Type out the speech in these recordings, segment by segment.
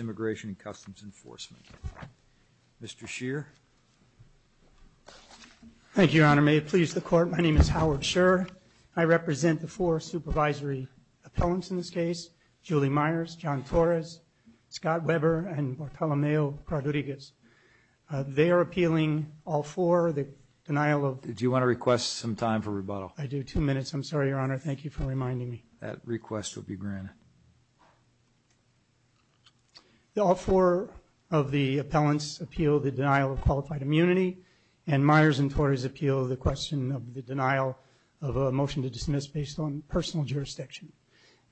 Immigration and Customs Enforcement, Mr. Shear. Thank you, Your Honor. May it please the Court. My name is Howard Shear. I represent the four supervisory appellants in this case, Julie Myers, John Torres, Scott Weber, and Bartolomeo Rodriguez. They are appealing all four, the denial of... Do you want to request some time for rebuttal? I do. Two minutes. I'm sorry, Your Honor. Thank you for reminding me. That request will be granted. All four of the appellants appeal the denial of qualified immunity, and Myers and Torres appeal the question of the denial of a motion to dismiss based on personal jurisdiction.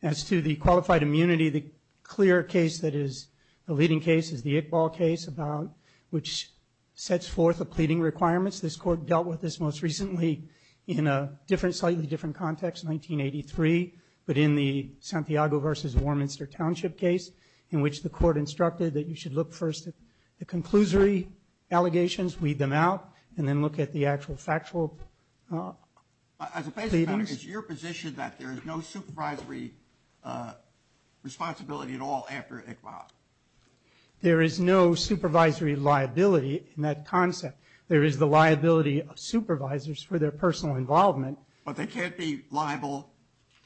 As to the qualified immunity, the clear case that is the leading case is the Iqbal case, which sets forth the pleading requirements. This Court dealt with this most recently in a slightly different context, 1983, but in the Santiago v. Warminster Township case, in which the Court instructed that you should look first at the conclusory allegations, weed them out, and then look at the actual factual pleadings. As a basic matter, is it your position that there is no supervisory responsibility at all after Iqbal? There is no supervisory liability in that concept. There is the liability of supervisors for their personal involvement. But they can't be liable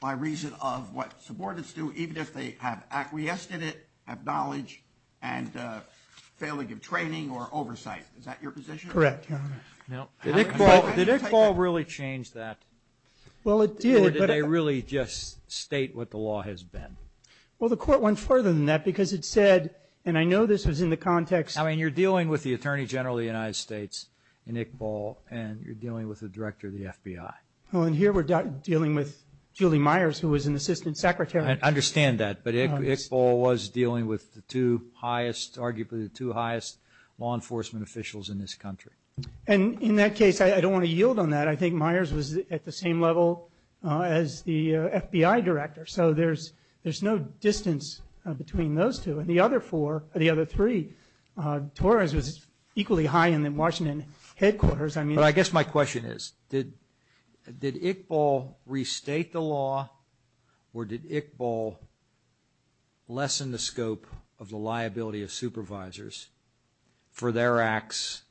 by reason of what subordinates do, even if they have acquiesced in it, have knowledge, and failing of training or oversight. Is that your position? Correct, Your Honor. Did Iqbal really change that? Well, it did. Or did they really just state what the law has been? Well, the Court went further than that because it said, and I know this was in the context I mean, you're dealing with the Attorney General of the United States in Iqbal, and you're dealing with the Director of the FBI. Well, and here we're dealing with Julie Myers, who was an Assistant Secretary. I understand that. But Iqbal was dealing with the two highest, arguably the two highest law enforcement officials in this country. And in that case, I don't want to yield on that. I think Myers was at the same level as the FBI Director. So there's no distance between those two. And the other four, the other three, Torres was equally high in the Washington headquarters. I mean... But I guess my question is, did Iqbal restate the law, or did Iqbal lessen the scope of the liability of supervisors for their acts,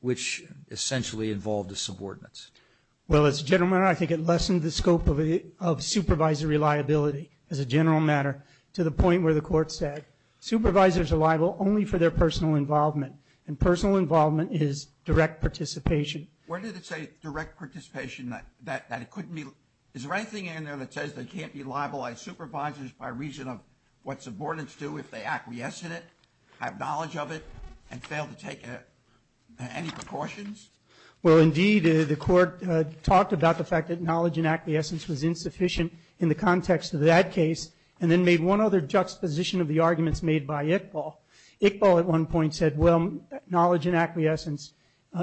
which essentially involved the subordinates? Well, as a general matter, I think it lessened the scope of supervisory liability as a general matter to the point where the Court said supervisors are liable only for their personal involvement. And personal involvement is direct participation. Where did it say direct participation, that it couldn't be... Is there anything in there that says they can't be libelized supervisors by reason of what subordinates do if they acquiesce in it, have knowledge of it, and fail to take any precautions? Well, indeed, the Court talked about the fact that knowledge and acquiescence was insufficient in the context of that case, and then made one other juxtaposition of the arguments made by Iqbal. Iqbal, at one point, said, well, knowledge and acquiescence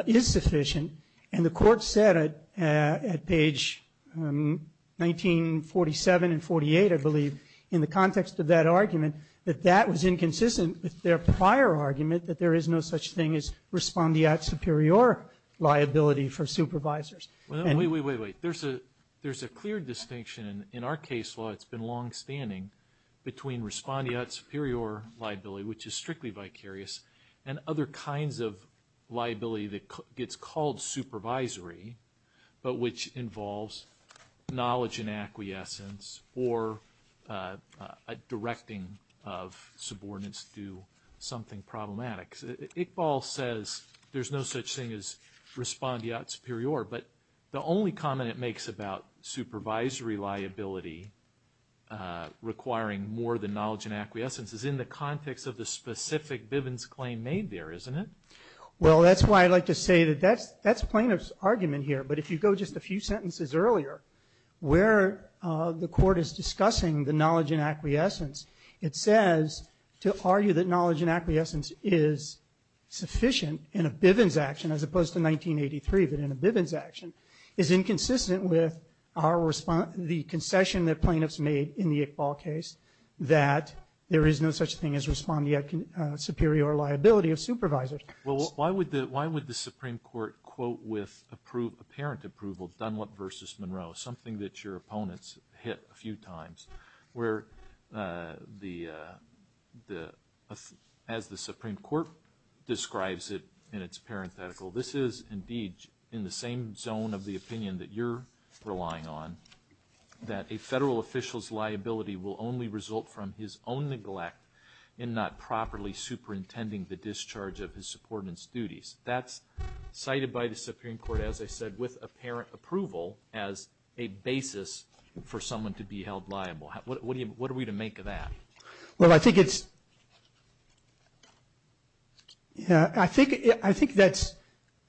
is sufficient. And the Court said at page 1947 and 48, I believe, in the context of that argument, that that was inconsistent with their prior argument that there is no such thing as respondeat superior liability for supervisors. Wait, wait, wait, wait. There's a clear distinction in our case law that's been longstanding between respondeat superior liability, which is strictly vicarious, and other kinds of liability that gets called supervisory, but which involves knowledge and acquiescence, or a directing of subordinates to do something problematic. Iqbal says there's no such thing as respondeat superior, but the only comment it makes about supervisory liability requiring more than knowledge and acquiescence is in the context of the specific Bivens claim made there, isn't it? Well, that's why I like to say that that's plaintiff's argument here. But if you go just a few sentences earlier, where the Court is discussing the knowledge and acquiescence, it says to argue that knowledge and acquiescence is sufficient in a Bivens action, as opposed to 1983, but in a Bivens action, is inconsistent with the concession that plaintiffs made in the Iqbal case, that there is no such thing as respondeat superior liability of supervisors. Well, why would the Supreme Court quote with apparent approval Dunlop v. Monroe, something that your opponents hit a few times, where as the Supreme Court describes it in its parenthetical, this is indeed in the same zone of the opinion that you're relying on, that a federal official's for intending the discharge of his supportant's duties. That's cited by the Supreme Court, as I said, with apparent approval as a basis for someone to be held liable. What are we to make of that? Well, I think it's, I think that's,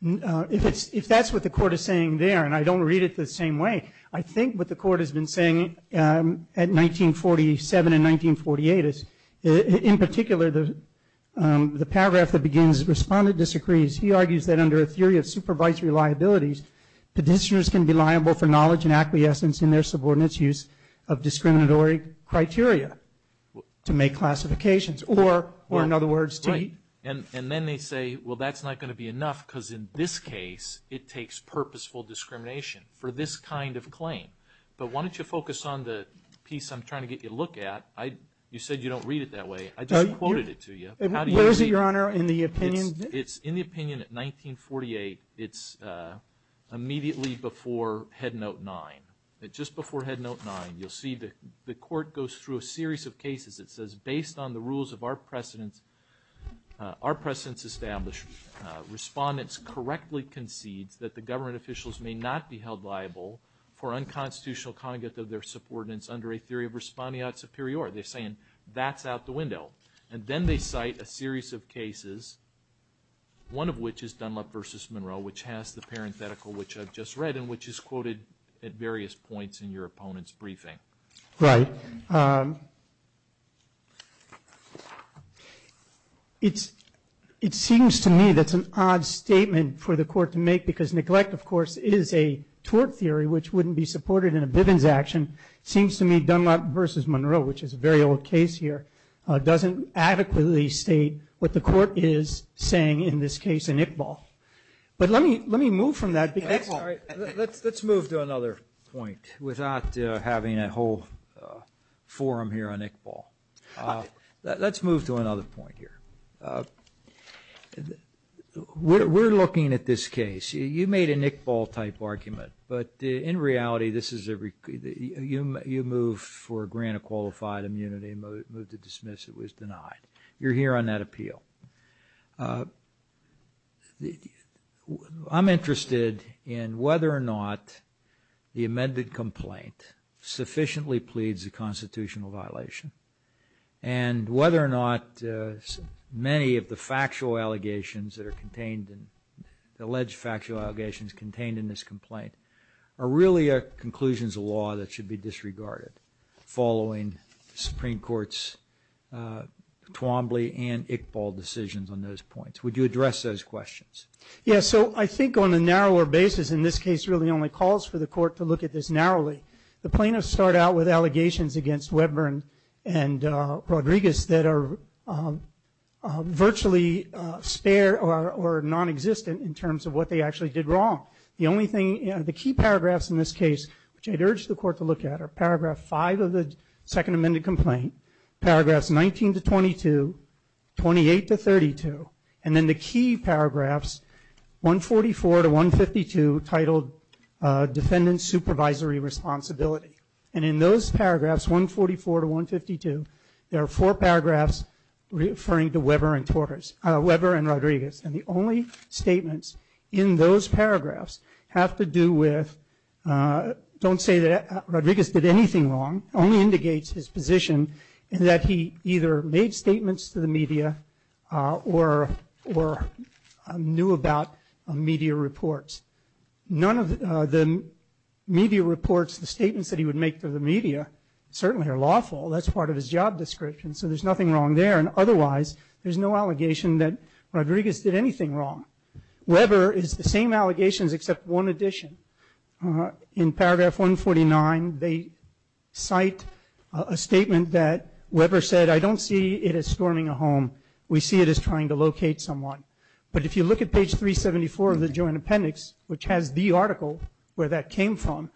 if that's what the Court is saying there, and I don't read it the same way, I think what the Court has been saying at 1947 and 1948 is, in particular, the paragraph that begins, respondeat disagrees. He argues that under a theory of supervisory liabilities, petitioners can be liable for knowledge and acquiescence in their subordinate's use of discriminatory criteria to make classifications, or in other words, to eat. And then they say, well, that's not going to be enough, because in this case, it takes purposeful discrimination for this kind of claim. But why don't you focus on the piece I'm trying to get you to look at. You said you don't read it that way. I just quoted it to you. How do you read it? Where is it, Your Honor, in the opinion? It's in the opinion at 1948. It's immediately before Headnote 9. Just before Headnote 9, you'll see the Court goes through a series of cases. It says, based on the rules of our precedents established, respondents correctly concedes that the government officials may not be held liable for unconstitutional congregate of their subordinates under a theory of respondeat superior. They're saying, that's out the window. And then they cite a series of cases, one of which is Dunlop versus Monroe, which has the parenthetical which I've just read and which is quoted at various points in your opponent's briefing. Right. It seems to me that's an odd statement for the Court to make, because neglect, of course, is a tort theory, which wouldn't be supported in a Bivens action. It seems to me Dunlop versus Monroe, which is a very old case here, doesn't adequately state what the Court is saying in this case in Iqbal. But let me move from that. All right. Let's move to another point without having a whole forum here on Iqbal. Let's move to another point here. We're looking at this case. You made an Iqbal-type argument. But in reality, you move for a grant of qualified immunity, move to dismiss it was denied. You're here on that appeal. I'm interested in whether or not the amended complaint sufficiently pleads a constitutional violation and whether or not many of the factual allegations that are contained in the alleged factual allegations contained in this complaint are really conclusions of law that should be disregarded following the Supreme Court's Twombly and Iqbal decisions on those points. Would you address those questions? Yeah. So I think on a narrower basis, in this case, it really only calls for the Court to look at this narrowly. The plaintiffs start out with allegations against Weburn and Rodriguez that are virtually spare or nonexistent in terms of what they actually did wrong. The only thing, the key paragraphs in this case, which I'd urge the Court to look at are paragraph 5 of the second amended complaint, paragraphs 19 to 22, 28 to 32, and then the key paragraphs 144 to 152 titled defendant supervisory responsibility. And in those paragraphs, 144 to 152, there are four paragraphs referring to Weburn and Rodriguez. And the only statements in those paragraphs have to do with, don't say that Rodriguez did anything wrong, only indicates his position in that he either made statements to the media or knew about media reports. None of the media reports, the statements that he would make to the media certainly are lawful. That's part of his job description. So there's nothing wrong there. And otherwise, there's no allegation that Rodriguez did anything wrong. Weburn is the same allegations except one addition. In paragraph 149, they cite a statement that Weburn said, I don't see it as storming a home. We see it as trying to locate someone. But if you look at page 374 of the joint appendix, which has the article where that came from,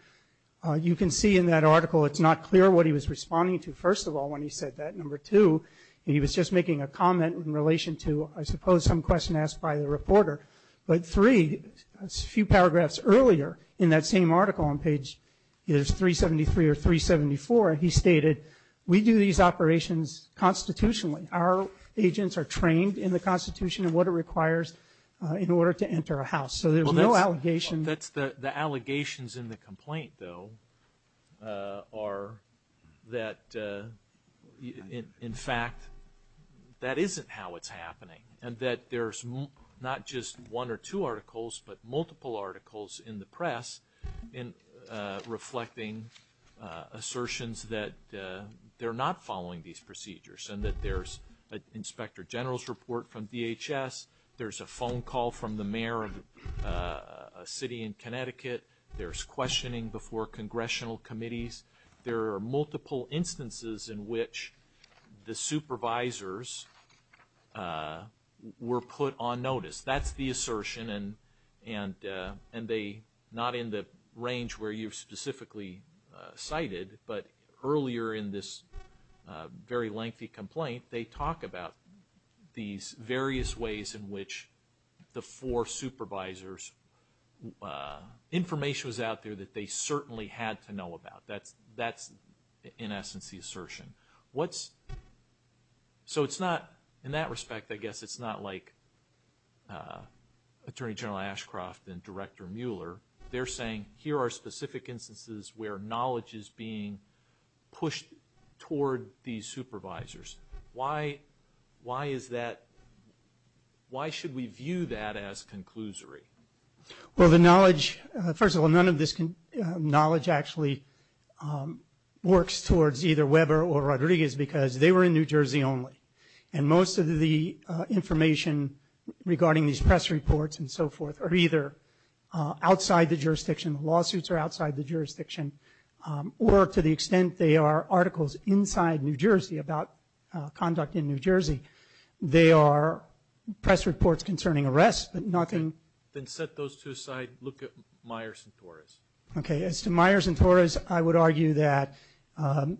you can see in that article it's not clear what he was responding to, first of all, when he said that. And number two, he was just making a comment in relation to, I suppose, some question asked by the reporter. But three, a few paragraphs earlier in that same article on page 373 or 374, he stated, we do these operations constitutionally. Our agents are trained in the Constitution and what it requires in order to enter a house. So there's no allegation. The allegations in the complaint, though, are that, in fact, that isn't how it's happening and that there's not just one or two articles, but multiple articles in the press reflecting assertions that they're not following these procedures and that there's an inspector general's from DHS, there's a phone call from the mayor of a city in Connecticut, there's questioning before congressional committees. There are multiple instances in which the supervisors were put on notice. That's the assertion and they, not in the range where you've specifically cited, but earlier in this very lengthy complaint, they talk about these various ways in which the four supervisors, information was out there that they certainly had to know about. That's, in essence, the assertion. So it's not, in that respect, I guess, it's not like Attorney General Ashcroft and Director Bush pushed toward these supervisors. Why is that? Why should we view that as conclusory? Well, the knowledge, first of all, none of this knowledge actually works towards either Weber or Rodriguez because they were in New Jersey only. And most of the information regarding these press reports and so forth are either outside the jurisdiction, the lawsuits are outside the jurisdiction, or to the extent they are articles inside New Jersey about conduct in New Jersey, they are press reports concerning arrests, but nothing. Then set those two aside, look at Myers and Torres. Okay. As to Myers and Torres, I would argue that,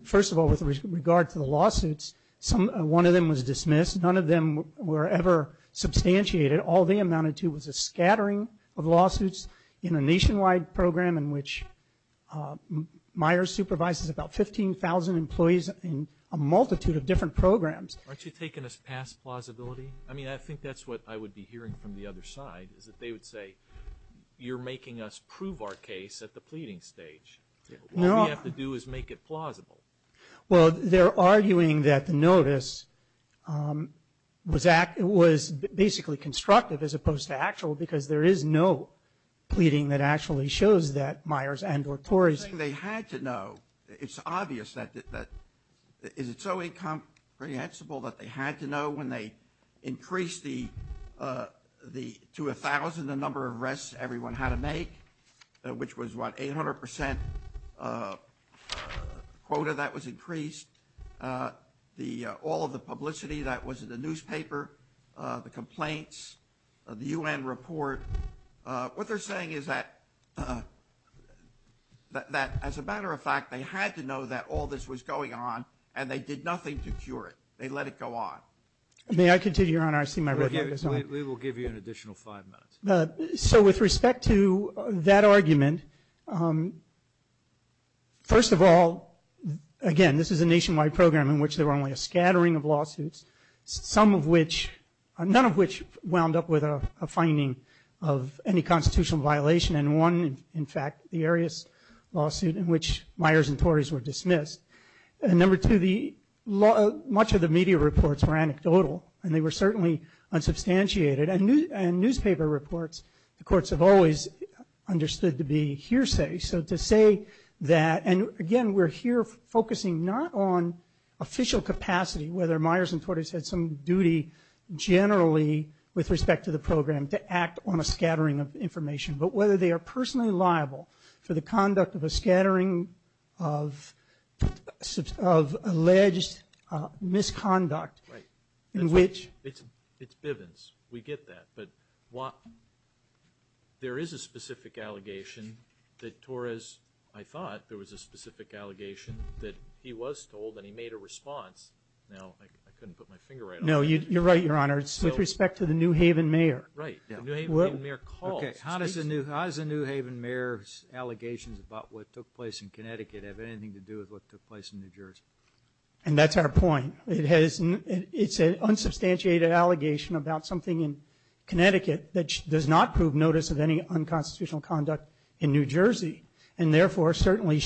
first of all, with regard to the lawsuits, one of them was dismissed. None of them were ever substantiated. All they amounted to was a scattering of lawsuits in a nationwide program in which Myers supervises about 15,000 employees in a multitude of different programs. Aren't you taking us past plausibility? I mean, I think that's what I would be hearing from the other side, is that they would say, you're making us prove our case at the pleading stage. All we have to do is make it plausible. Well, they're arguing that the notice was basically constructive as opposed to actual because there is no pleading that actually shows that Myers and or Torres. They had to know, it's obvious that, is it so incomprehensible that they had to know when they increased the, to 1,000, the number of arrests everyone had to make, which was about 800% quota that was increased, all of the publicity that was in the newspaper, the complaints, the U.N. report. What they're saying is that, as a matter of fact, they had to know that all this was going on and they did nothing to cure it. They let it go on. May I continue, Your Honor? I've seen my report. We will give you an additional five minutes. So with respect to that argument, first of all, again, this is a nationwide program in which there were only a scattering of lawsuits, some of which, none of which wound up with a finding of any constitutional violation and one, in fact, the Arias lawsuit in which Myers and Torres were dismissed. And number two, much of the media reports were anecdotal and they were certainly unsubstantiated and newspaper reports, the courts have always understood to be hearsay. So to say that, and again, we're here focusing not on official capacity, whether Myers and Torres had some duty generally with respect to the program to act on a scattering of information, but whether they are personally liable for the conduct of a scattering of alleged misconduct in which- It's Bivens. We get that. But there is a specific allegation that Torres, I thought there was a specific allegation that he was told and he made a response. Now, I couldn't put my finger right on it. No, you're right, Your Honor. It's with respect to the New Haven mayor. Right. The New Haven mayor called. Okay. How does the New Haven mayor's allegations about what took place in Connecticut have anything to do with what took place in New Jersey? And that's our point. It's an unsubstantiated allegation about something in Connecticut that does not prove notice of any unconstitutional conduct in New Jersey, and therefore certainly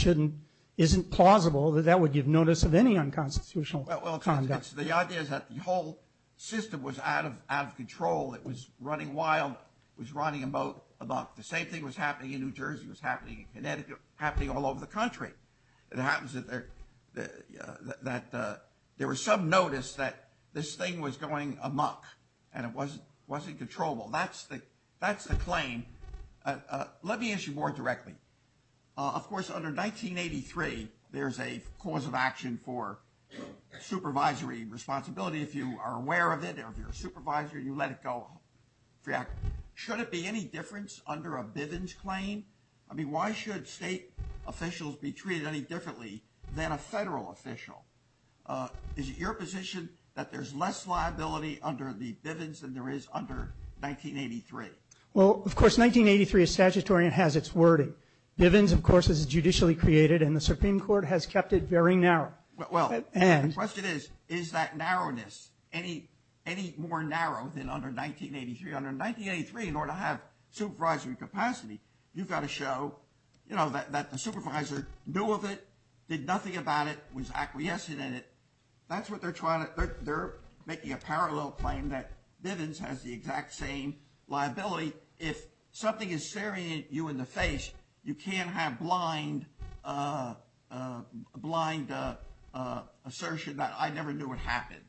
isn't plausible that that would give notice of any unconstitutional conduct. The idea is that the whole system was out of control, it was running wild, it was running about the same thing was happening in New Jersey, was happening in Connecticut, happening all over the country. It happens that there was some notice that this thing was going amok and it wasn't controllable. That's the claim. Let me ask you more directly. Of course, under 1983, there's a cause of action for supervisory responsibility if you are aware of it or if you're a supervisor, you let it go. Should it be any difference under a Bivens claim? I mean, why should state officials be treated any differently than a federal official? Is it your position that there's less liability under the Bivens than there is under 1983? Well, of course, 1983 is statutory and has its wording. Bivens, of course, is judicially created and the Supreme Court has kept it very narrow. Well, the question is, is that narrowness any more narrow than under 1983? Under 1983, in order to have supervisory capacity, you've got to show that the supervisor knew of it, did nothing about it, was acquiescent in it. That's what they're trying to... They're making a parallel claim that Bivens has the exact same liability. If something is staring at you in the face, you can't have blind assertion that I never knew it happened.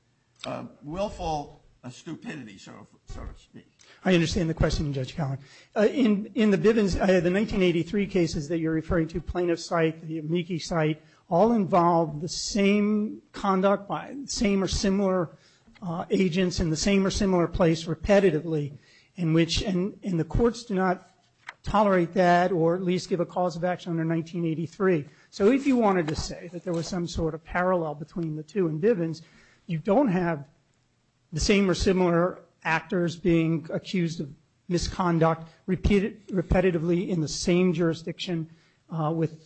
Willful stupidity, so to speak. I understand the question, Judge Collin. In the Bivens, the 1983 cases that you're referring to, plaintiff's site, the amici site, all involved the same conduct by the same or similar agents in the same or similar place repetitively in which... And the courts do not tolerate that or at least give a cause of action under 1983. So if you wanted to say that there was some sort of parallel between the two in Bivens, you don't have the same or similar actors being accused of misconduct, repeated repetitively in the same jurisdiction with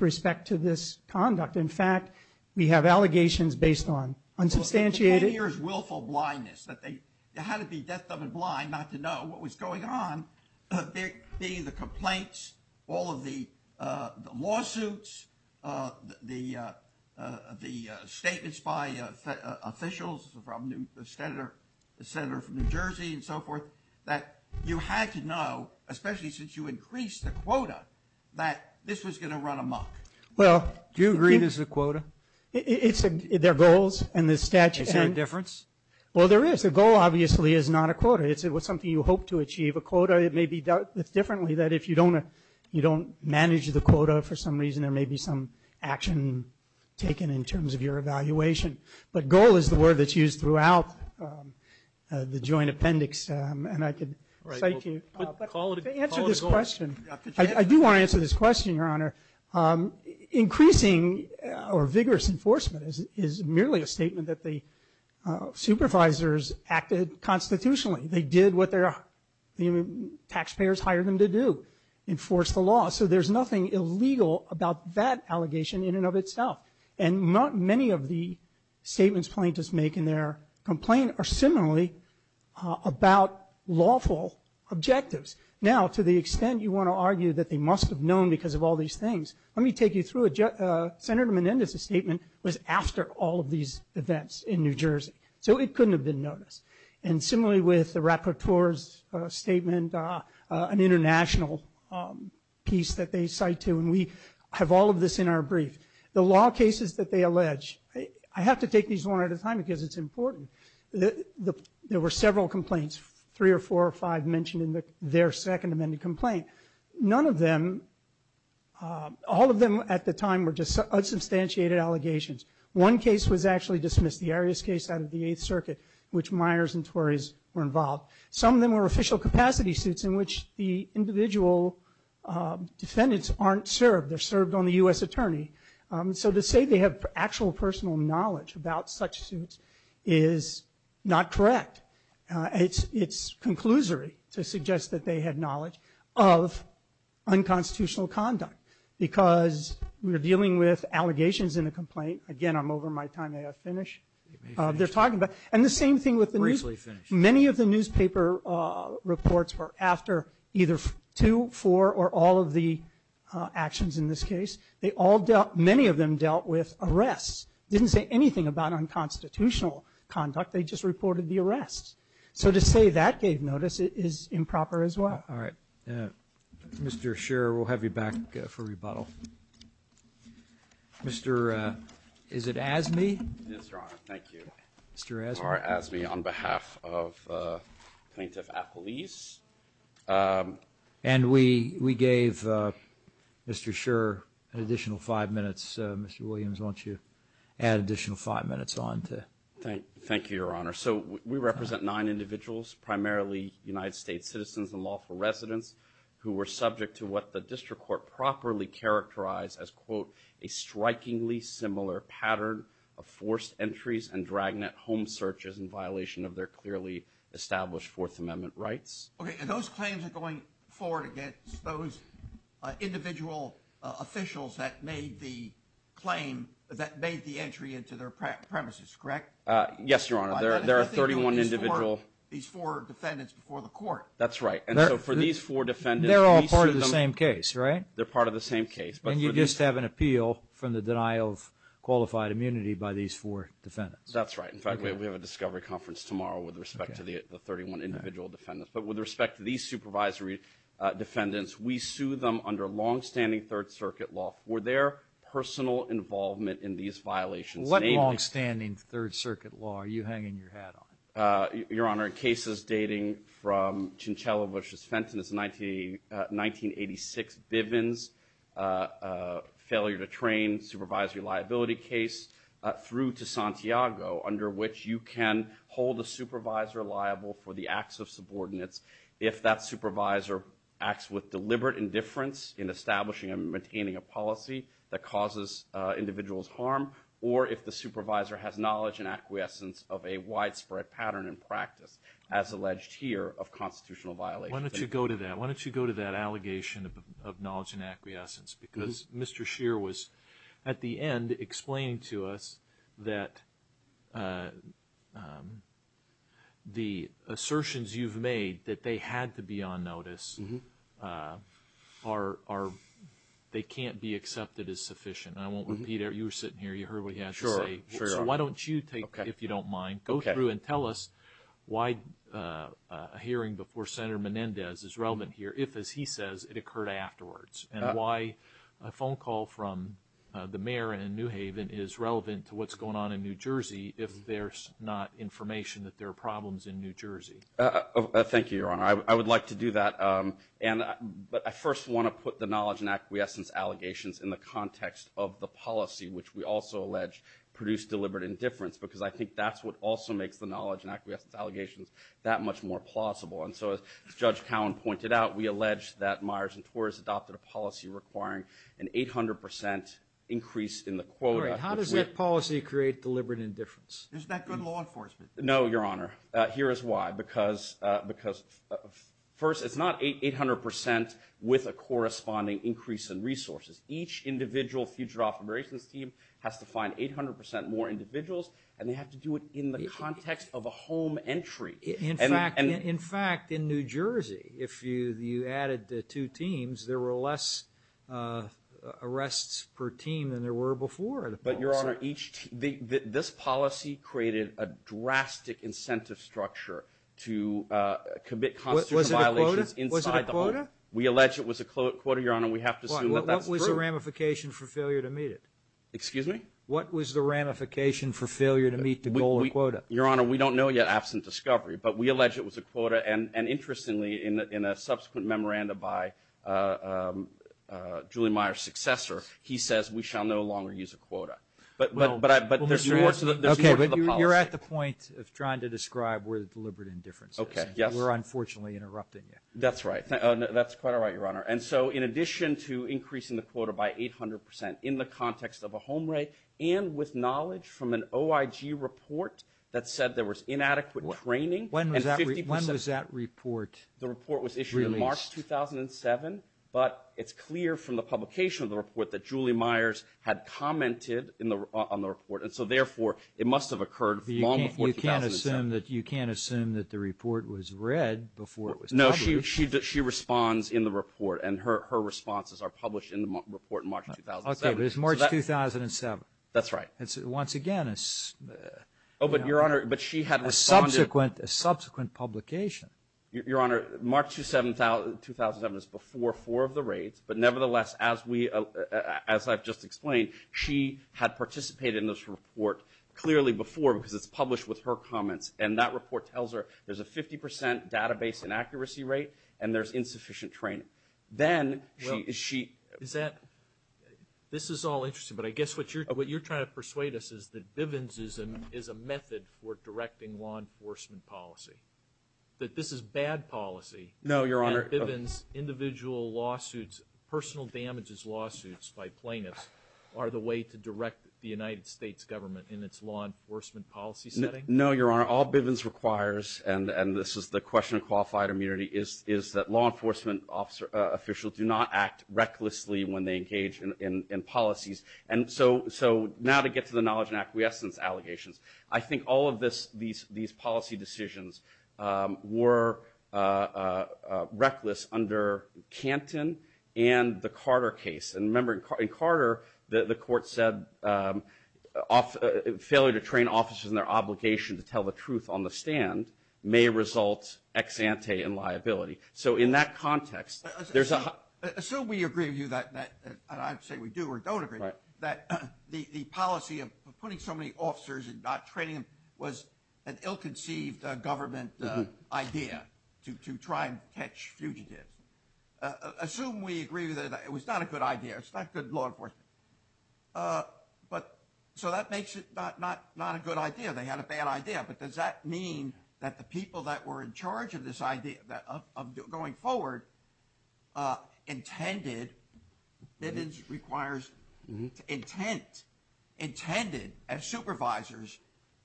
respect to this conduct. In fact, we have allegations based on unsubstantiated... Here's willful blindness, that they had to be deaf, dumb, and blind not to know what was going on. There being the complaints, all of the lawsuits, the statements by officials from the Senator from New Jersey and so forth, that you had to know, especially since you increased the quota, that this was going to run amok. Well... Do you agree this is a quota? It's their goals and the statute... Is there a difference? Well, there is. It's something you hope to achieve. A quota, it may be dealt with differently, that if you don't manage the quota for some reason, there may be some action taken in terms of your evaluation. But goal is the word that's used throughout the Joint Appendix, and I could cite you... But call it a goal. To answer this question, I do want to answer this question, Your Honor. Increasing or vigorous enforcement is merely a statement that the supervisors acted constitutionally. They did what the taxpayers hired them to do, enforce the law. So there's nothing illegal about that allegation in and of itself. And not many of the statements plaintiffs make in their complaint are similarly about lawful objectives. Now, to the extent you want to argue that they must have known because of all these things, let me take you through it. Senator Menendez's statement was after all of these events in New Jersey. So it couldn't have been noticed. And similarly with the rapporteur's statement, an international piece that they cite to, and we have all of this in our brief. The law cases that they allege, I have to take these one at a time because it's important. There were several complaints, three or four or five mentioned in their Second Amendment complaint. None of them, all of them at the time were just unsubstantiated allegations. One case was actually dismissed, the Arias case out of the Eighth Circuit, which Myers and Tories were involved. Some of them were official capacity suits in which the individual defendants aren't served. They're served on the U.S. attorney. So to say they have actual personal knowledge about such suits is not correct. It's conclusory to suggest that they had knowledge of unconstitutional conduct because we're dealing with allegations in the complaint. Again, I'm over my time. May I finish? They're talking about, and the same thing with the- Briefly finish. Many of the newspaper reports were after either two, four, or all of the actions in this case. They all dealt, many of them dealt with arrests. Didn't say anything about unconstitutional conduct. They just reported the arrests. So to say that gave notice is improper as well. All right. Mr. Scherr, we'll have you back for rebuttal. Mr., is it Azmi? Yes, Your Honor. Thank you. Mr. Azmi. Mar Azmi on behalf of Plaintiff Appellees. And we gave Mr. Scherr an additional five minutes. Mr. Williams, why don't you add additional five minutes on to- Thank you, Your Honor. So we represent nine individuals, primarily United States citizens and lawful residents, who were subject to what the district court properly characterized as, quote, a strikingly similar pattern of forced entries and dragnet home searches in violation of their clearly established Fourth Amendment rights. Okay, and those claims are going forward against those individual officials that made the claim, that made the entry into their premises, correct? Yes, Your Honor. There are 31 individual- These four defendants before the court. That's right. And so for these four defendants- They're all part of the same case, right? They're part of the same case. And you just have an appeal from the denial of qualified immunity by these four defendants. That's right. In fact, we have a discovery conference tomorrow with respect to the 31 individual defendants. But with respect to these supervisory defendants, we sue them under long-standing Third Circuit law for their personal involvement in these violations. What long-standing Third Circuit law are you hanging your hat on? Your Honor, cases dating from Cincello v. Fenton's 1986 Bivens failure to train supervisory liability case through to Santiago, under which you can hold a supervisor liable for the acts of subordinates if that supervisor acts with deliberate indifference in establishing and maintaining a policy that causes individuals harm, or if the supervisor has knowledge and acquiescence of a widespread pattern and practice, as alleged here, of constitutional violation. Why don't you go to that? Why don't you go to that allegation of knowledge and acquiescence? Because Mr. Scheer was, at the end, explaining to us that the assertions you've made that they had to be on notice are, they can't be accepted as sufficient. I won't repeat it. You were sitting here. You heard what he had to say. So why don't you take, if you don't mind, go through and tell us why a hearing before Senator Menendez is relevant here, if, as he says, it occurred afterwards, and why a phone call from the mayor in New Haven is relevant to what's going on in New Jersey if there's not information that there are problems in New Jersey. Thank you, Your Honor. I would like to do that. And I first want to put the knowledge and acquiescence allegations in the context of the policy, which we also allege produced deliberate indifference, because I think that's what also makes the knowledge and acquiescence allegations that much more plausible. And so, as Judge Cowen pointed out, we allege that Meyers and Torres adopted a policy requiring an 800% increase in the quota. All right. How does that policy create deliberate indifference? Isn't that good law enforcement? No, Your Honor. Here is why. Because, first, it's not 800% with a corresponding increase in resources. Each individual fugitive operations team has to find 800% more individuals, and they have to do it in the context of a home entry. In fact, in New Jersey, if you added two teams, there were less arrests per team than there were before the policy. But, Your Honor, this policy created a drastic incentive structure to commit constitutional violations inside the home. Was it a quota? We allege it was a quota, Your Honor. We have to assume that that's true. What was the ramification for failure to meet it? Excuse me? What was the ramification for failure to meet the goal of quota? Your Honor, we don't know yet, absent discovery. But we allege it was a quota. And, interestingly, in a subsequent memorandum by Julie Meyer's successor, he says we shall no longer use a quota. But there's more to the policy. Okay. But you're at the point of trying to describe where the deliberate indifference is. Okay. Yes. We're unfortunately interrupting you. That's right. That's quite all right, Your Honor. And so, in addition to increasing the quota by 800 percent in the context of a home rate and with knowledge from an OIG report that said there was inadequate training. When was that report released? The report was issued in March 2007. But it's clear from the publication of the report that Julie Meyers had commented on the report. And so, therefore, it must have occurred long before 2007. You can't assume that the report was read before it was published. No. She responds in the report. And her responses are published in the report in March 2007. Okay. But it's March 2007. That's right. And so, once again, it's a subsequent publication. Your Honor, March 2007 is before four of the rates. But, nevertheless, as I've just explained, she had participated in this report clearly before because it's published with her comments. And that report tells her there's a 50 percent database inaccuracy rate and there's insufficient training. Then, she. Is that. This is all interesting. But I guess what you're trying to persuade us is that Bivens is a method for directing law enforcement policy. That this is bad policy. No, Your Honor. That Bivens individual lawsuits, personal damages lawsuits by plaintiffs are the way to direct the United States government in its law enforcement policy setting? No, Your Honor. All Bivens requires, and this is the question of qualified immunity, is that law enforcement officials do not act recklessly when they engage in policies. And so, now to get to the knowledge and acquiescence allegations. I think all of these policy decisions were reckless under Canton and the Carter case. And remember, in Carter, the court said failure to train officers in their obligation to tell the truth on the stand may result ex ante in liability. So, in that context, there's a. Assume we agree with you that, and I say we do or don't agree, that the policy of putting so many officers and not training them was an ill-conceived government idea to try and catch fugitives. Assume we agree with you that it was not a good idea. It's not good law enforcement. But, so that makes it not a good idea. They had a bad idea. But, does that mean that the people that were in charge of this idea of going forward intended, Bivens requires intent, intended as supervisors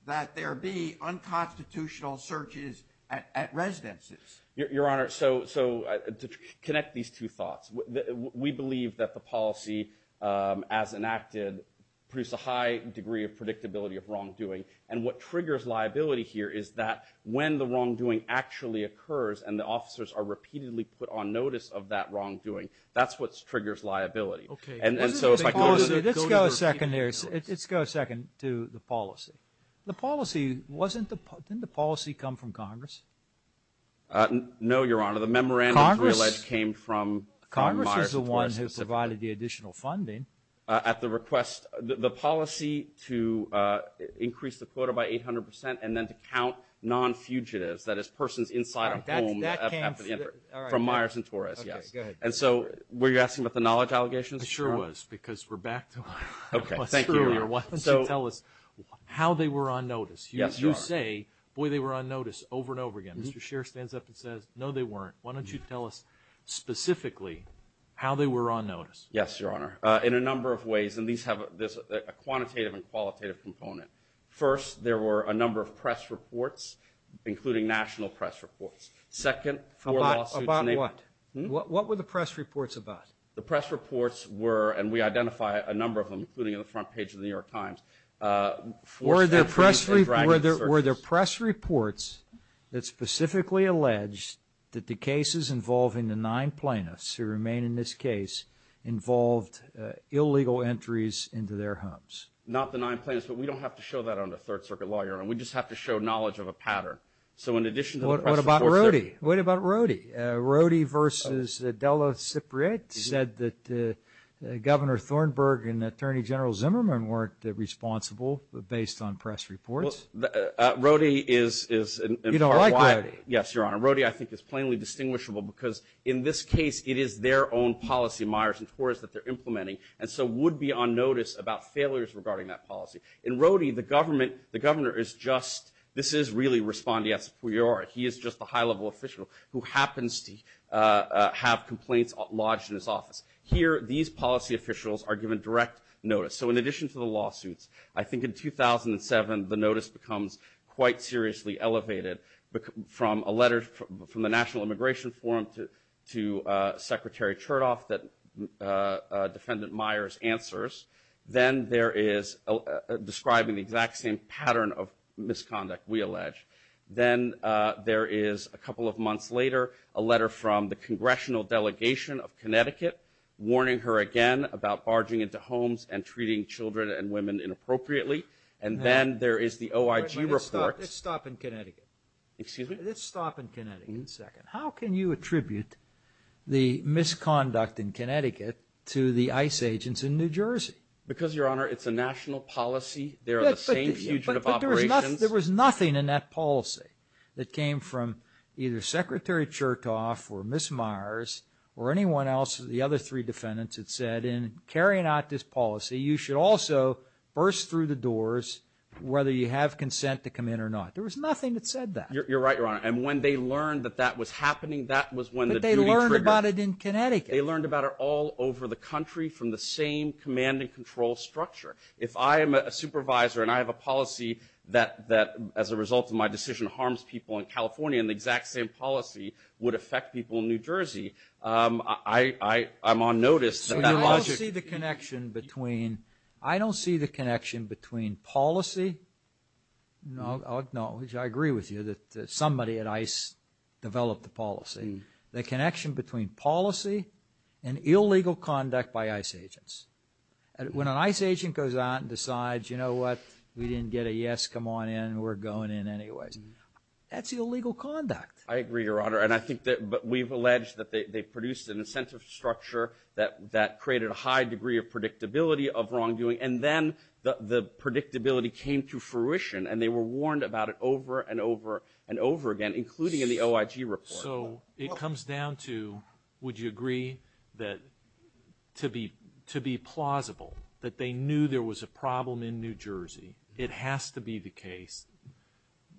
that there be unconstitutional searches at residences? Your Honor, so to connect these two thoughts, we believe that the policy as enacted produced a high degree of predictability of wrongdoing. And what triggers liability here is that when the wrongdoing actually occurs and the officers are repeatedly put on notice of that wrongdoing, that's what triggers liability. And so, if I go to the. Let's go a second here. Let's go a second to the policy. The policy wasn't, didn't the policy come from Congress? No, Your Honor. The memorandum as we allege came from. Congress is the one who provided the additional funding. At the request, the policy to increase the quota by 800% and then to count non-fugitives, that is persons inside a home, from Myers and Torres. Yes. And so, were you asking about the knowledge allegations? I sure was, because we're back to what's true here. Why don't you tell us how they were on notice? You say, boy, they were on notice over and over again. Mr. Scherer stands up and says, no, they weren't. Why don't you tell us specifically how they were on notice? Yes, Your Honor. In a number of ways, and these have, there's a quantitative and qualitative component. First, there were a number of press reports, including national press reports. Second, four lawsuits. About what? What were the press reports about? The press reports were, and we identify a number of them, including in the front page of the New York Times. Four statutes and dragging searches. Were there press reports that specifically alleged that the cases involving the nine plaintiffs who remain in this case involved illegal entries into their homes? Not the nine plaintiffs, but we don't have to show that on the Third Circuit Law, Your Honor. We just have to show knowledge of a pattern. So, in addition to the press reports, there were... What about Rody? What about Rody? Rody versus Della Cipriate said that Governor Thornburg and Attorney General Zimmerman weren't responsible, based on press reports. Well, Rody is, in part, why... You don't like Rody? Yes, Your Honor. Rody, I think, is plainly distinguishable because, in this case, it is their own policy, Myers and Torres, that they're implementing, and so would be on notice about failures regarding that policy. In Rody, the government, the governor is just... This is really Respondeat Superior. He is just a high-level official who happens to have complaints lodged in his office. Here, these policy officials are given direct notice. So, in addition to the lawsuits, I think in 2007, the notice becomes quite seriously elevated from a letter from the National Immigration Forum to Secretary Chertoff that Defendant Myers answers. Then, there is describing the exact same pattern of misconduct, we allege. Then, there is, a couple of months later, a letter from the Congressional Delegation of Connecticut, warning her again about barging into homes and treating children and women inappropriately. And then, there is the OIG report. Let's stop in Connecticut. Excuse me? Let's stop in Connecticut for a second. How can you attribute the misconduct in Connecticut to the ICE agents in New Jersey? Because, Your Honor, it's a national policy. There are the same fugitive operations. There was nothing in that policy that came from either Secretary Chertoff or Ms. Myers or anyone else, the other three defendants that said, in carrying out this policy, you should also burst through the doors, whether you have consent to come in or not. There was nothing that said that. You're right, Your Honor. And, when they learned that that was happening, that was when the duty triggered. But, they learned about it in Connecticut. They learned about it all over the country from the same command and control structure. If I am a supervisor and I have a policy that, as a result of my decision, harms people in California, and the exact same policy would affect people in New Jersey, I'm on notice. So, you don't see the connection between, I don't see the connection between policy. No, I agree with you that somebody at ICE developed the policy. The connection between policy and illegal conduct by ICE agents. When an ICE agent goes out and decides, you know what, we didn't get a yes, come on in, we're going in anyway, that's illegal conduct. I agree, Your Honor. And, I think that we've alleged that they produced an incentive structure that created a high degree of predictability of wrongdoing. And then, the predictability came to fruition. And, they were warned about it over and over and over again, including in the OIG report. So, it comes down to, would you agree that, to be plausible, that they knew there was a problem in New Jersey, it has to be the case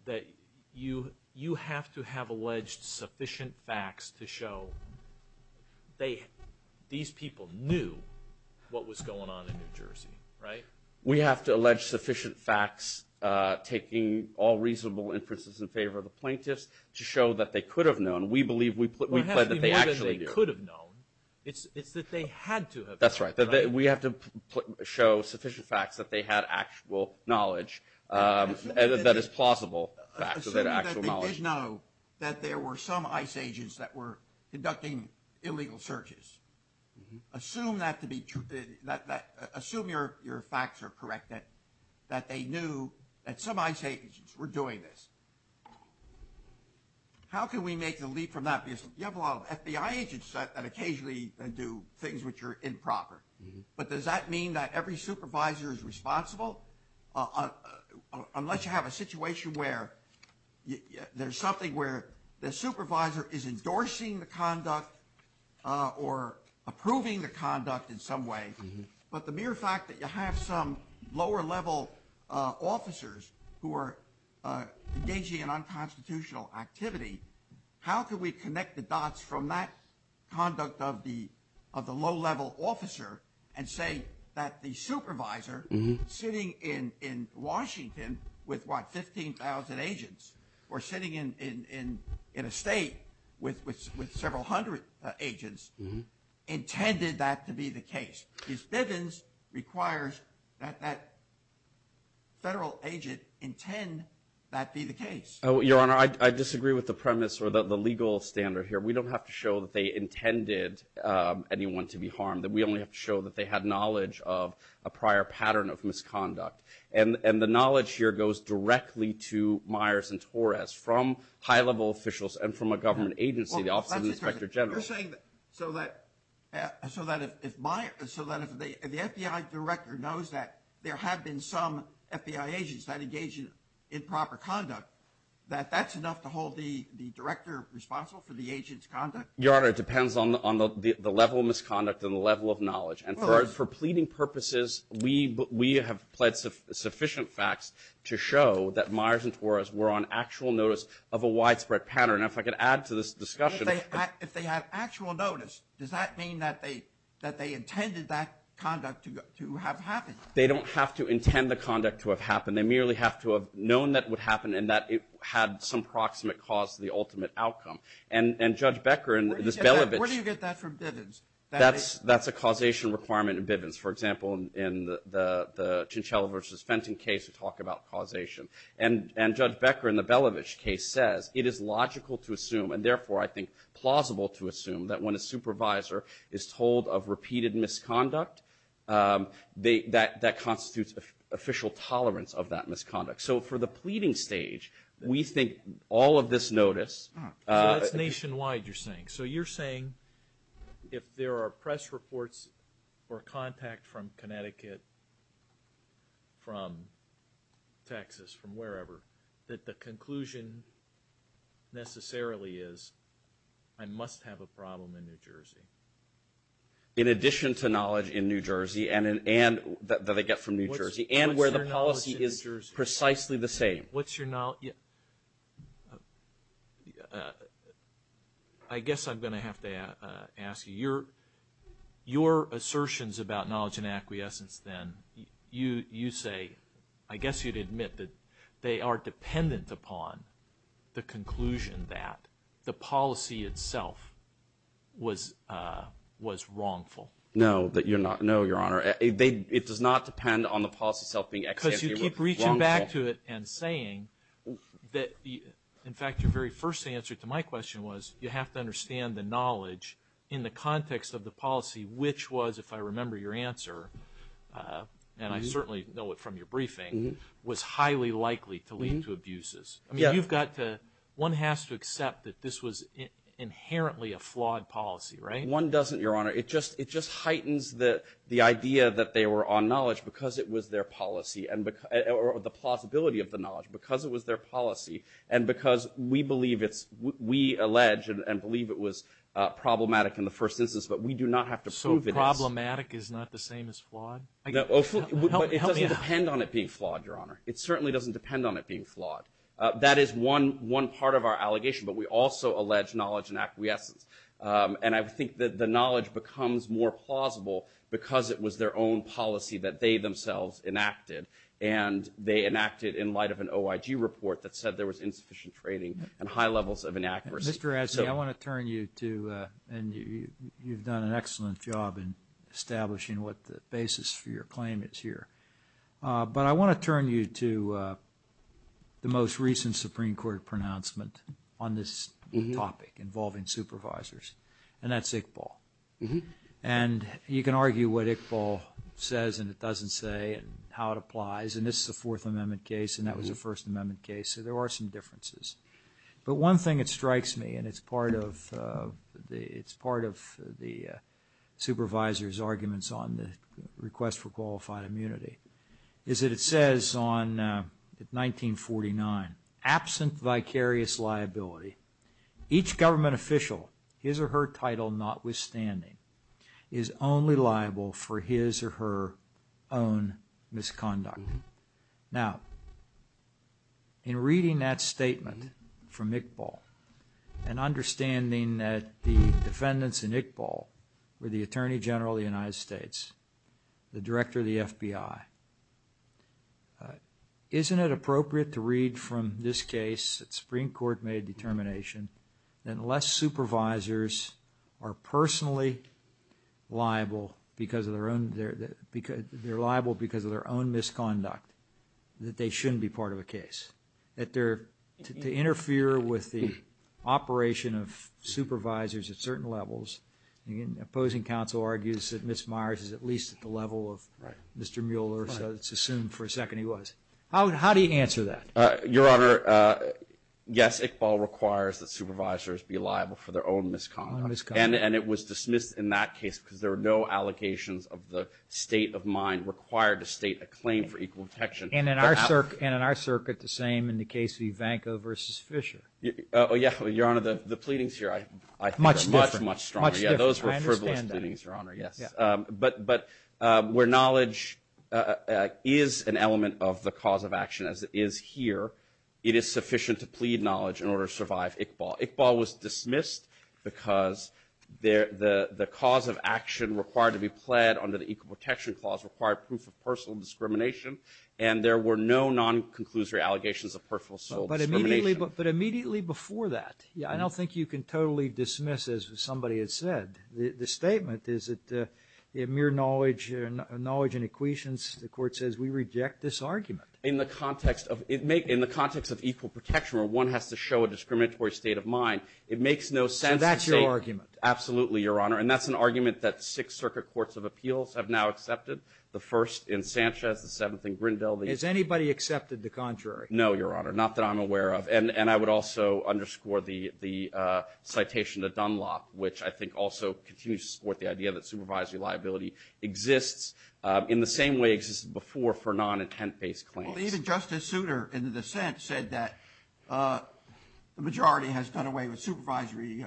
that you have to have alleged sufficient facts to show these people knew what was going on in New Jersey. Right? We have to allege sufficient facts, taking all reasonable inferences in favor of the plaintiffs, to show that they could have known. We believe that they actually knew. It's that they had to have known. That's right. We have to show sufficient facts that they had actual knowledge, that is plausible. Assume that they did know that there were some ICE agents that were conducting illegal searches. Assume your facts are correct, that they knew that some ICE agents were doing this. How can we make the leap from that? Because you have a lot of FBI agents that occasionally do things which are improper. But, does that mean that every supervisor is responsible? Unless you have a situation where there's something where the supervisor is endorsing the conduct or approving the conduct in some way, but the mere fact that you have some lower level officers who are engaging in unconstitutional activity, how can we connect the dots from that conduct of the low level officer and say that the supervisor sitting in Washington with, what, in a state with several hundred agents intended that to be the case? Because Bivens requires that that federal agent intend that be the case. Your Honor, I disagree with the premise or the legal standard here. We don't have to show that they intended anyone to be harmed. We only have to show that they had knowledge of a prior pattern of misconduct. And the knowledge here goes directly to Myers and Torres from high level officials and from a government agency, the Office of the Inspector General. You're saying that so that if the FBI director knows that there have been some FBI agents that engage in improper conduct, that that's enough to hold the director responsible for the agent's conduct? Your Honor, it depends on the level of misconduct and the level of knowledge. And for pleading purposes, we have pled sufficient facts to show that Myers and Torres were on actual notice of a widespread pattern. Now, if I could add to this discussion. If they had actual notice, does that mean that they intended that conduct to have happened? They don't have to intend the conduct to have happened. They merely have to have known that it would happen and that it had some proximate cause to the ultimate outcome. And Judge Becker and Ms. Belovich. Where do you get that from Bivens? That's a causation requirement in Bivens. For example, in the Chinchella versus Fenton case, we talk about causation. And Judge Becker in the Belovich case says it is logical to assume and therefore, I think, plausible to assume that when a supervisor is told of repeated misconduct, that constitutes official tolerance of that misconduct. So for the pleading stage, we think all of this notice. So that's nationwide, you're saying. So you're saying if there are press reports or contact from Connecticut, from Texas, from wherever, that the conclusion necessarily is, I must have a problem in New Jersey. In addition to knowledge in New Jersey and that they get from New Jersey and where the policy is precisely the same. What's your knowledge? Yeah. I guess I'm going to have to ask you. Your assertions about knowledge and acquiescence then, you say, I guess you'd admit that they are dependent upon the conclusion that the policy itself was wrongful. No. No, Your Honor. It does not depend on the policy itself being wrongful. I keep reaching back to it and saying that, in fact, your very first answer to my question was you have to understand the knowledge in the context of the policy, which was, if I remember your answer, and I certainly know it from your briefing, was highly likely to lead to abuses. I mean, you've got to, one has to accept that this was inherently a flawed policy, right? One doesn't, Your Honor. It just heightens the idea that they were on knowledge because it was their policy. Or the plausibility of the knowledge, because it was their policy and because we believe it's, we allege and believe it was problematic in the first instance, but we do not have to prove it is. So problematic is not the same as flawed? Oh, it doesn't depend on it being flawed, Your Honor. It certainly doesn't depend on it being flawed. That is one part of our allegation, but we also allege knowledge and acquiescence. And I think that the knowledge becomes more plausible because it was their own policy that they themselves enacted, and they enacted in light of an OIG report that said there was insufficient training and high levels of inaccuracy. Mr. Razzi, I want to turn you to, and you've done an excellent job in establishing what the basis for your claim is here. But I want to turn you to the most recent Supreme Court pronouncement on this topic involving supervisors, and that's Iqbal. And you can argue what Iqbal says and it doesn't say and how it applies. And this is a Fourth Amendment case, and that was a First Amendment case. So there are some differences. But one thing that strikes me, and it's part of the supervisor's arguments on the request for qualified immunity, is that it says on 1949, absent vicarious liability, each government official, his or her title notwithstanding, is only liable for his or her own misconduct. Now, in reading that statement from Iqbal and understanding that the defendants in Iqbal were the Attorney General of the United States, the Director of the FBI, isn't it appropriate to read from this case that Supreme Court made a determination that unless supervisors are personally liable because of their own, they're liable because of their own misconduct, that they shouldn't be part of a case. That they're, to interfere with the operation of supervisors at certain levels, and the opposing counsel argues that Ms. Meyers is at least at the level of Mr. Mueller, so it's assumed for a second he was. How do you answer that? Your Honor, yes, Iqbal requires that supervisors be liable for their own misconduct. And it was dismissed in that case because there were no allocations of the state of mind required to state a claim for equal protection. And in our circuit, the same in the case of Ivanko versus Fisher. Oh, yeah, Your Honor, the pleadings here, I think, are much, much stronger. Yeah, those were frivolous pleadings, Your Honor, yes. But where knowledge is an element of the cause of action, as it is here, it is sufficient to plead knowledge in order to survive Iqbal. Iqbal was dismissed because the cause of action required to be pled under the Equal Protection Clause required proof of personal discrimination, and there were no non-conclusory allegations of personal discrimination. But immediately before that, I don't think you can totally dismiss, as somebody has said, the statement is that mere knowledge and equations, the Court says, we reject this argument. In the context of equal protection, where one has to show a discriminatory state of mind, it makes no sense to say — So that's your argument? Absolutely, Your Honor. And that's an argument that six circuit courts of appeals have now accepted, the first in Sanchez, the seventh in Grindel — Has anybody accepted the contrary? No, Your Honor, not that I'm aware of. And I would also underscore the citation to Dunlop, which I think also continues to support the idea that supervisory liability exists in the same way it existed before for non-intent-based claims. Well, even Justice Souter, in the dissent, said that the majority has done away with supervisory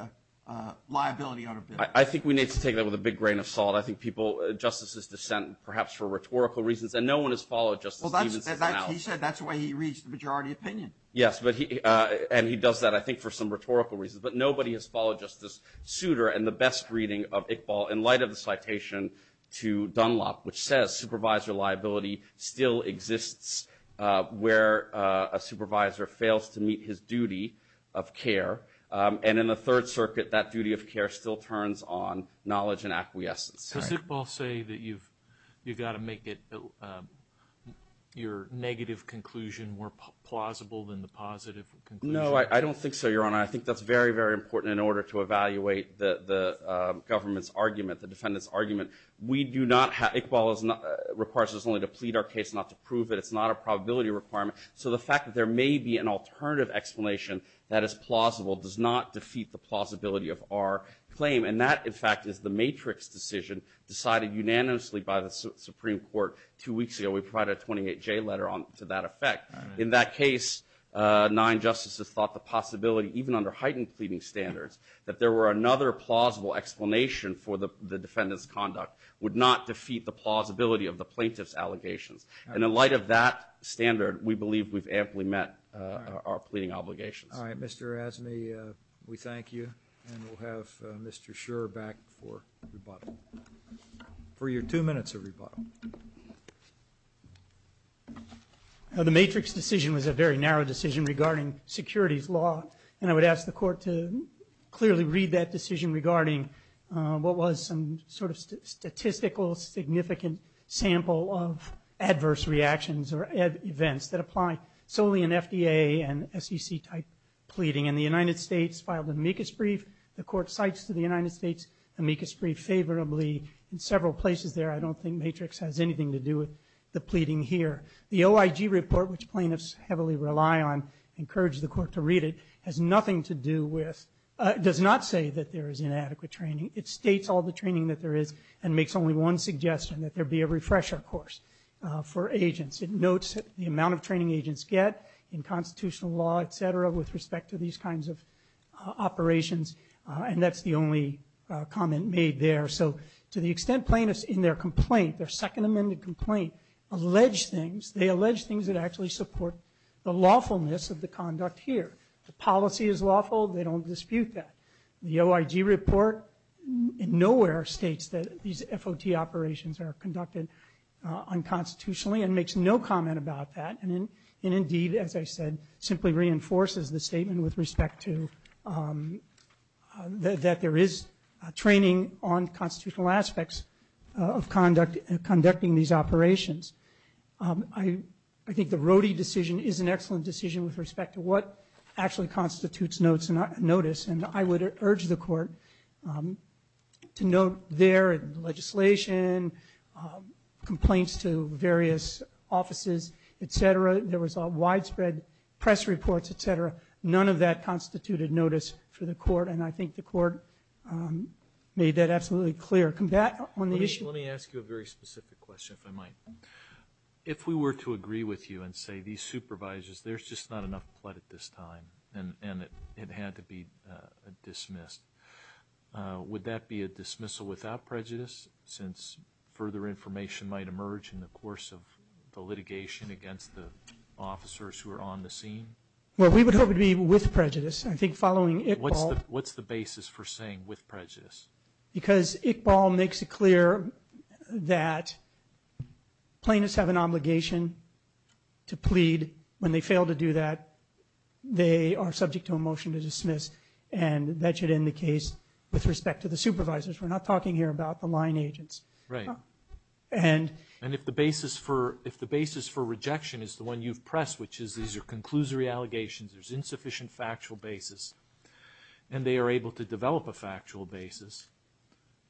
liability on a bill. I think we need to take that with a big grain of salt. I think people — Justice's dissent, perhaps for rhetorical reasons, and no one has followed Justice Stevens' analysis. He said that's the way he reads the majority opinion. Yes, but he — and he does that, I think, for some rhetorical reasons. But nobody has followed Justice Souter and the best reading of Iqbal in light of the citation to Dunlop, which says supervisory liability still exists where a supervisor fails to meet his duty of care. And in the Third Circuit, that duty of care still turns on knowledge and acquiescence. Does Iqbal say that you've got to make it — your negative conclusion more plausible than the positive conclusion? No, I don't think so, Your Honor. I think that's very, very important in order to evaluate the government's argument, the defendant's argument. We do not — Iqbal requires us only to plead our case, not to prove it. It's not a probability requirement. So the fact that there may be an alternative explanation that is plausible does not defeat the plausibility of our claim. And that, in fact, is the matrix decision decided unanimously by the Supreme Court two weeks ago. We provided a 28-J letter to that effect. In that case, nine justices thought the possibility, even under heightened pleading standards, that there were another plausible explanation for the defendant's conduct would not defeat the plausibility of the plaintiff's allegations. And in light of that standard, we believe we've amply met our pleading obligations. All right, Mr. Razzani, we thank you. And we'll have Mr. Shurer back for rebuttal. For your two minutes of rebuttal. The matrix decision was a very narrow decision regarding securities law. And I would ask the Court to clearly read that decision regarding what was some sort of statistical significant sample of adverse reactions or events that apply solely in FDA and SEC-type pleading. And the United States filed an amicus brief. The Court cites to the United States amicus brief favorably in several places there. I don't think matrix has anything to do with the pleading here. The OIG report, which plaintiffs heavily rely on, encourage the Court to read it, has nothing to do with, does not say that there is inadequate training. It states all the training that there is and makes only one suggestion, that there be a refresher course for agents. It notes the amount of training agents get in constitutional law, et cetera, with respect to these kinds of operations. And that's the only comment made there. So to the extent plaintiffs in their complaint, their second amended complaint, allege things, they allege things that actually support the lawfulness of the conduct here. The policy is lawful, they don't dispute that. The OIG report in nowhere states that these FOT operations are conducted unconstitutionally and makes no comment about that. And indeed, as I said, simply reinforces the statement with respect to that there is training on constitutional aspects of conducting these operations. I think the Rohde decision is an excellent decision with respect to what actually constitutes notice. And I would urge the Court to note there in the legislation, complaints to various offices, et cetera. There was a widespread press report, et cetera. None of that constituted notice for the Court, and I think the Court made that absolutely clear. On the issue... Let me ask you a very specific question, if I might. If we were to agree with you and say these supervisors, there's just not enough blood at this time, and it had to be dismissed, would that be a dismissal without prejudice since further information might emerge in the course of the litigation against the officers who are on the scene? Well, we would hope it would be with prejudice. I think following Iqbal... What's the basis for saying with prejudice? Because Iqbal makes it clear that plaintiffs have an obligation to plead. When they fail to do that, they are subject to a motion to dismiss, and that should end the case with respect to the supervisors. We're not talking here about the line agents. Right. And... And if the basis for rejection is the one you've pressed, which is these are conclusory allegations, there's insufficient factual basis, and they are able to develop a factual basis,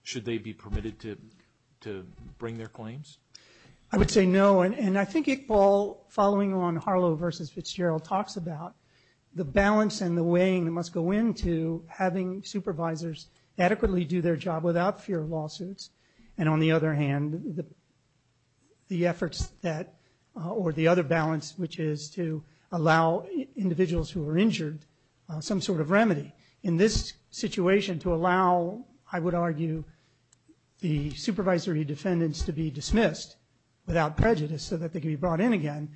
should they be permitted to bring their claims? I would say no. And I think Iqbal, following on Harlow versus Fitzgerald, talks about the balance and the weighing that must go into having supervisors adequately do their job without fear of lawsuits. And on the other hand, the efforts that... The effort is to allow individuals who are injured some sort of remedy. In this situation, to allow, I would argue, the supervisory defendants to be dismissed without prejudice so that they can be brought in again,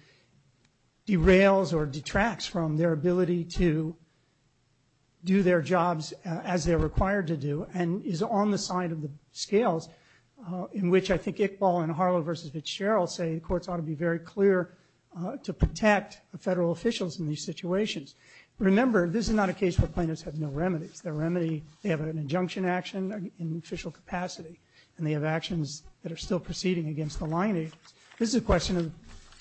derails or detracts from their ability to do their jobs as they're required to do, and is on the side of the scales in which I think Iqbal and Harlow versus Fitzgerald say the courts ought to be very clear to protect the federal officials in these situations. Remember, this is not a case where plaintiffs have no remedies. Their remedy, they have an injunction action in official capacity, and they have actions that are still proceeding against the line agents. This is a question of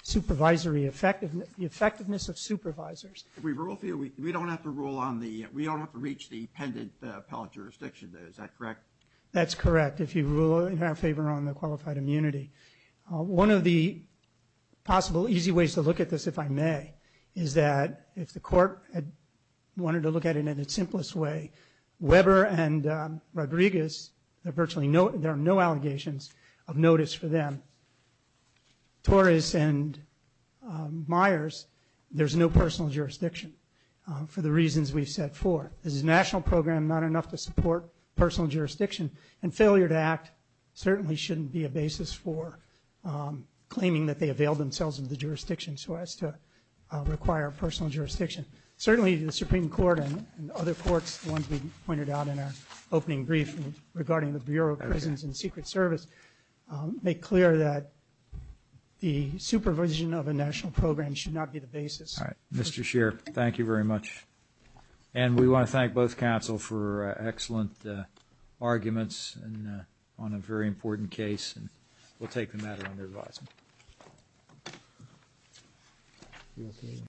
supervisory effectiveness, the effectiveness of supervisors. We don't have to rule on the... We don't have to reach the pendant appellate jurisdiction though, is that correct? That's correct, if you rule in our favor on the qualified immunity. One of the possible easy ways to look at this, if I may, is that if the court wanted to look at it in its simplest way, Weber and Rodriguez, there are no allegations of notice for them. Torres and Myers, there's no personal jurisdiction for the reasons we've set forth. This is a national program, not enough to support personal jurisdiction, and failure to act certainly shouldn't be a basis for claiming that they availed themselves of the jurisdiction so as to require personal jurisdiction. Certainly, the Supreme Court and other courts, the ones we pointed out in our opening briefing regarding the Bureau of Prisons and Secret Service, make clear that the supervision of a national program should not be the basis. Mr. Scheer, thank you very much. And we want to thank both counsel for excellent arguments and on a very important case, and we'll take the matter under advisement.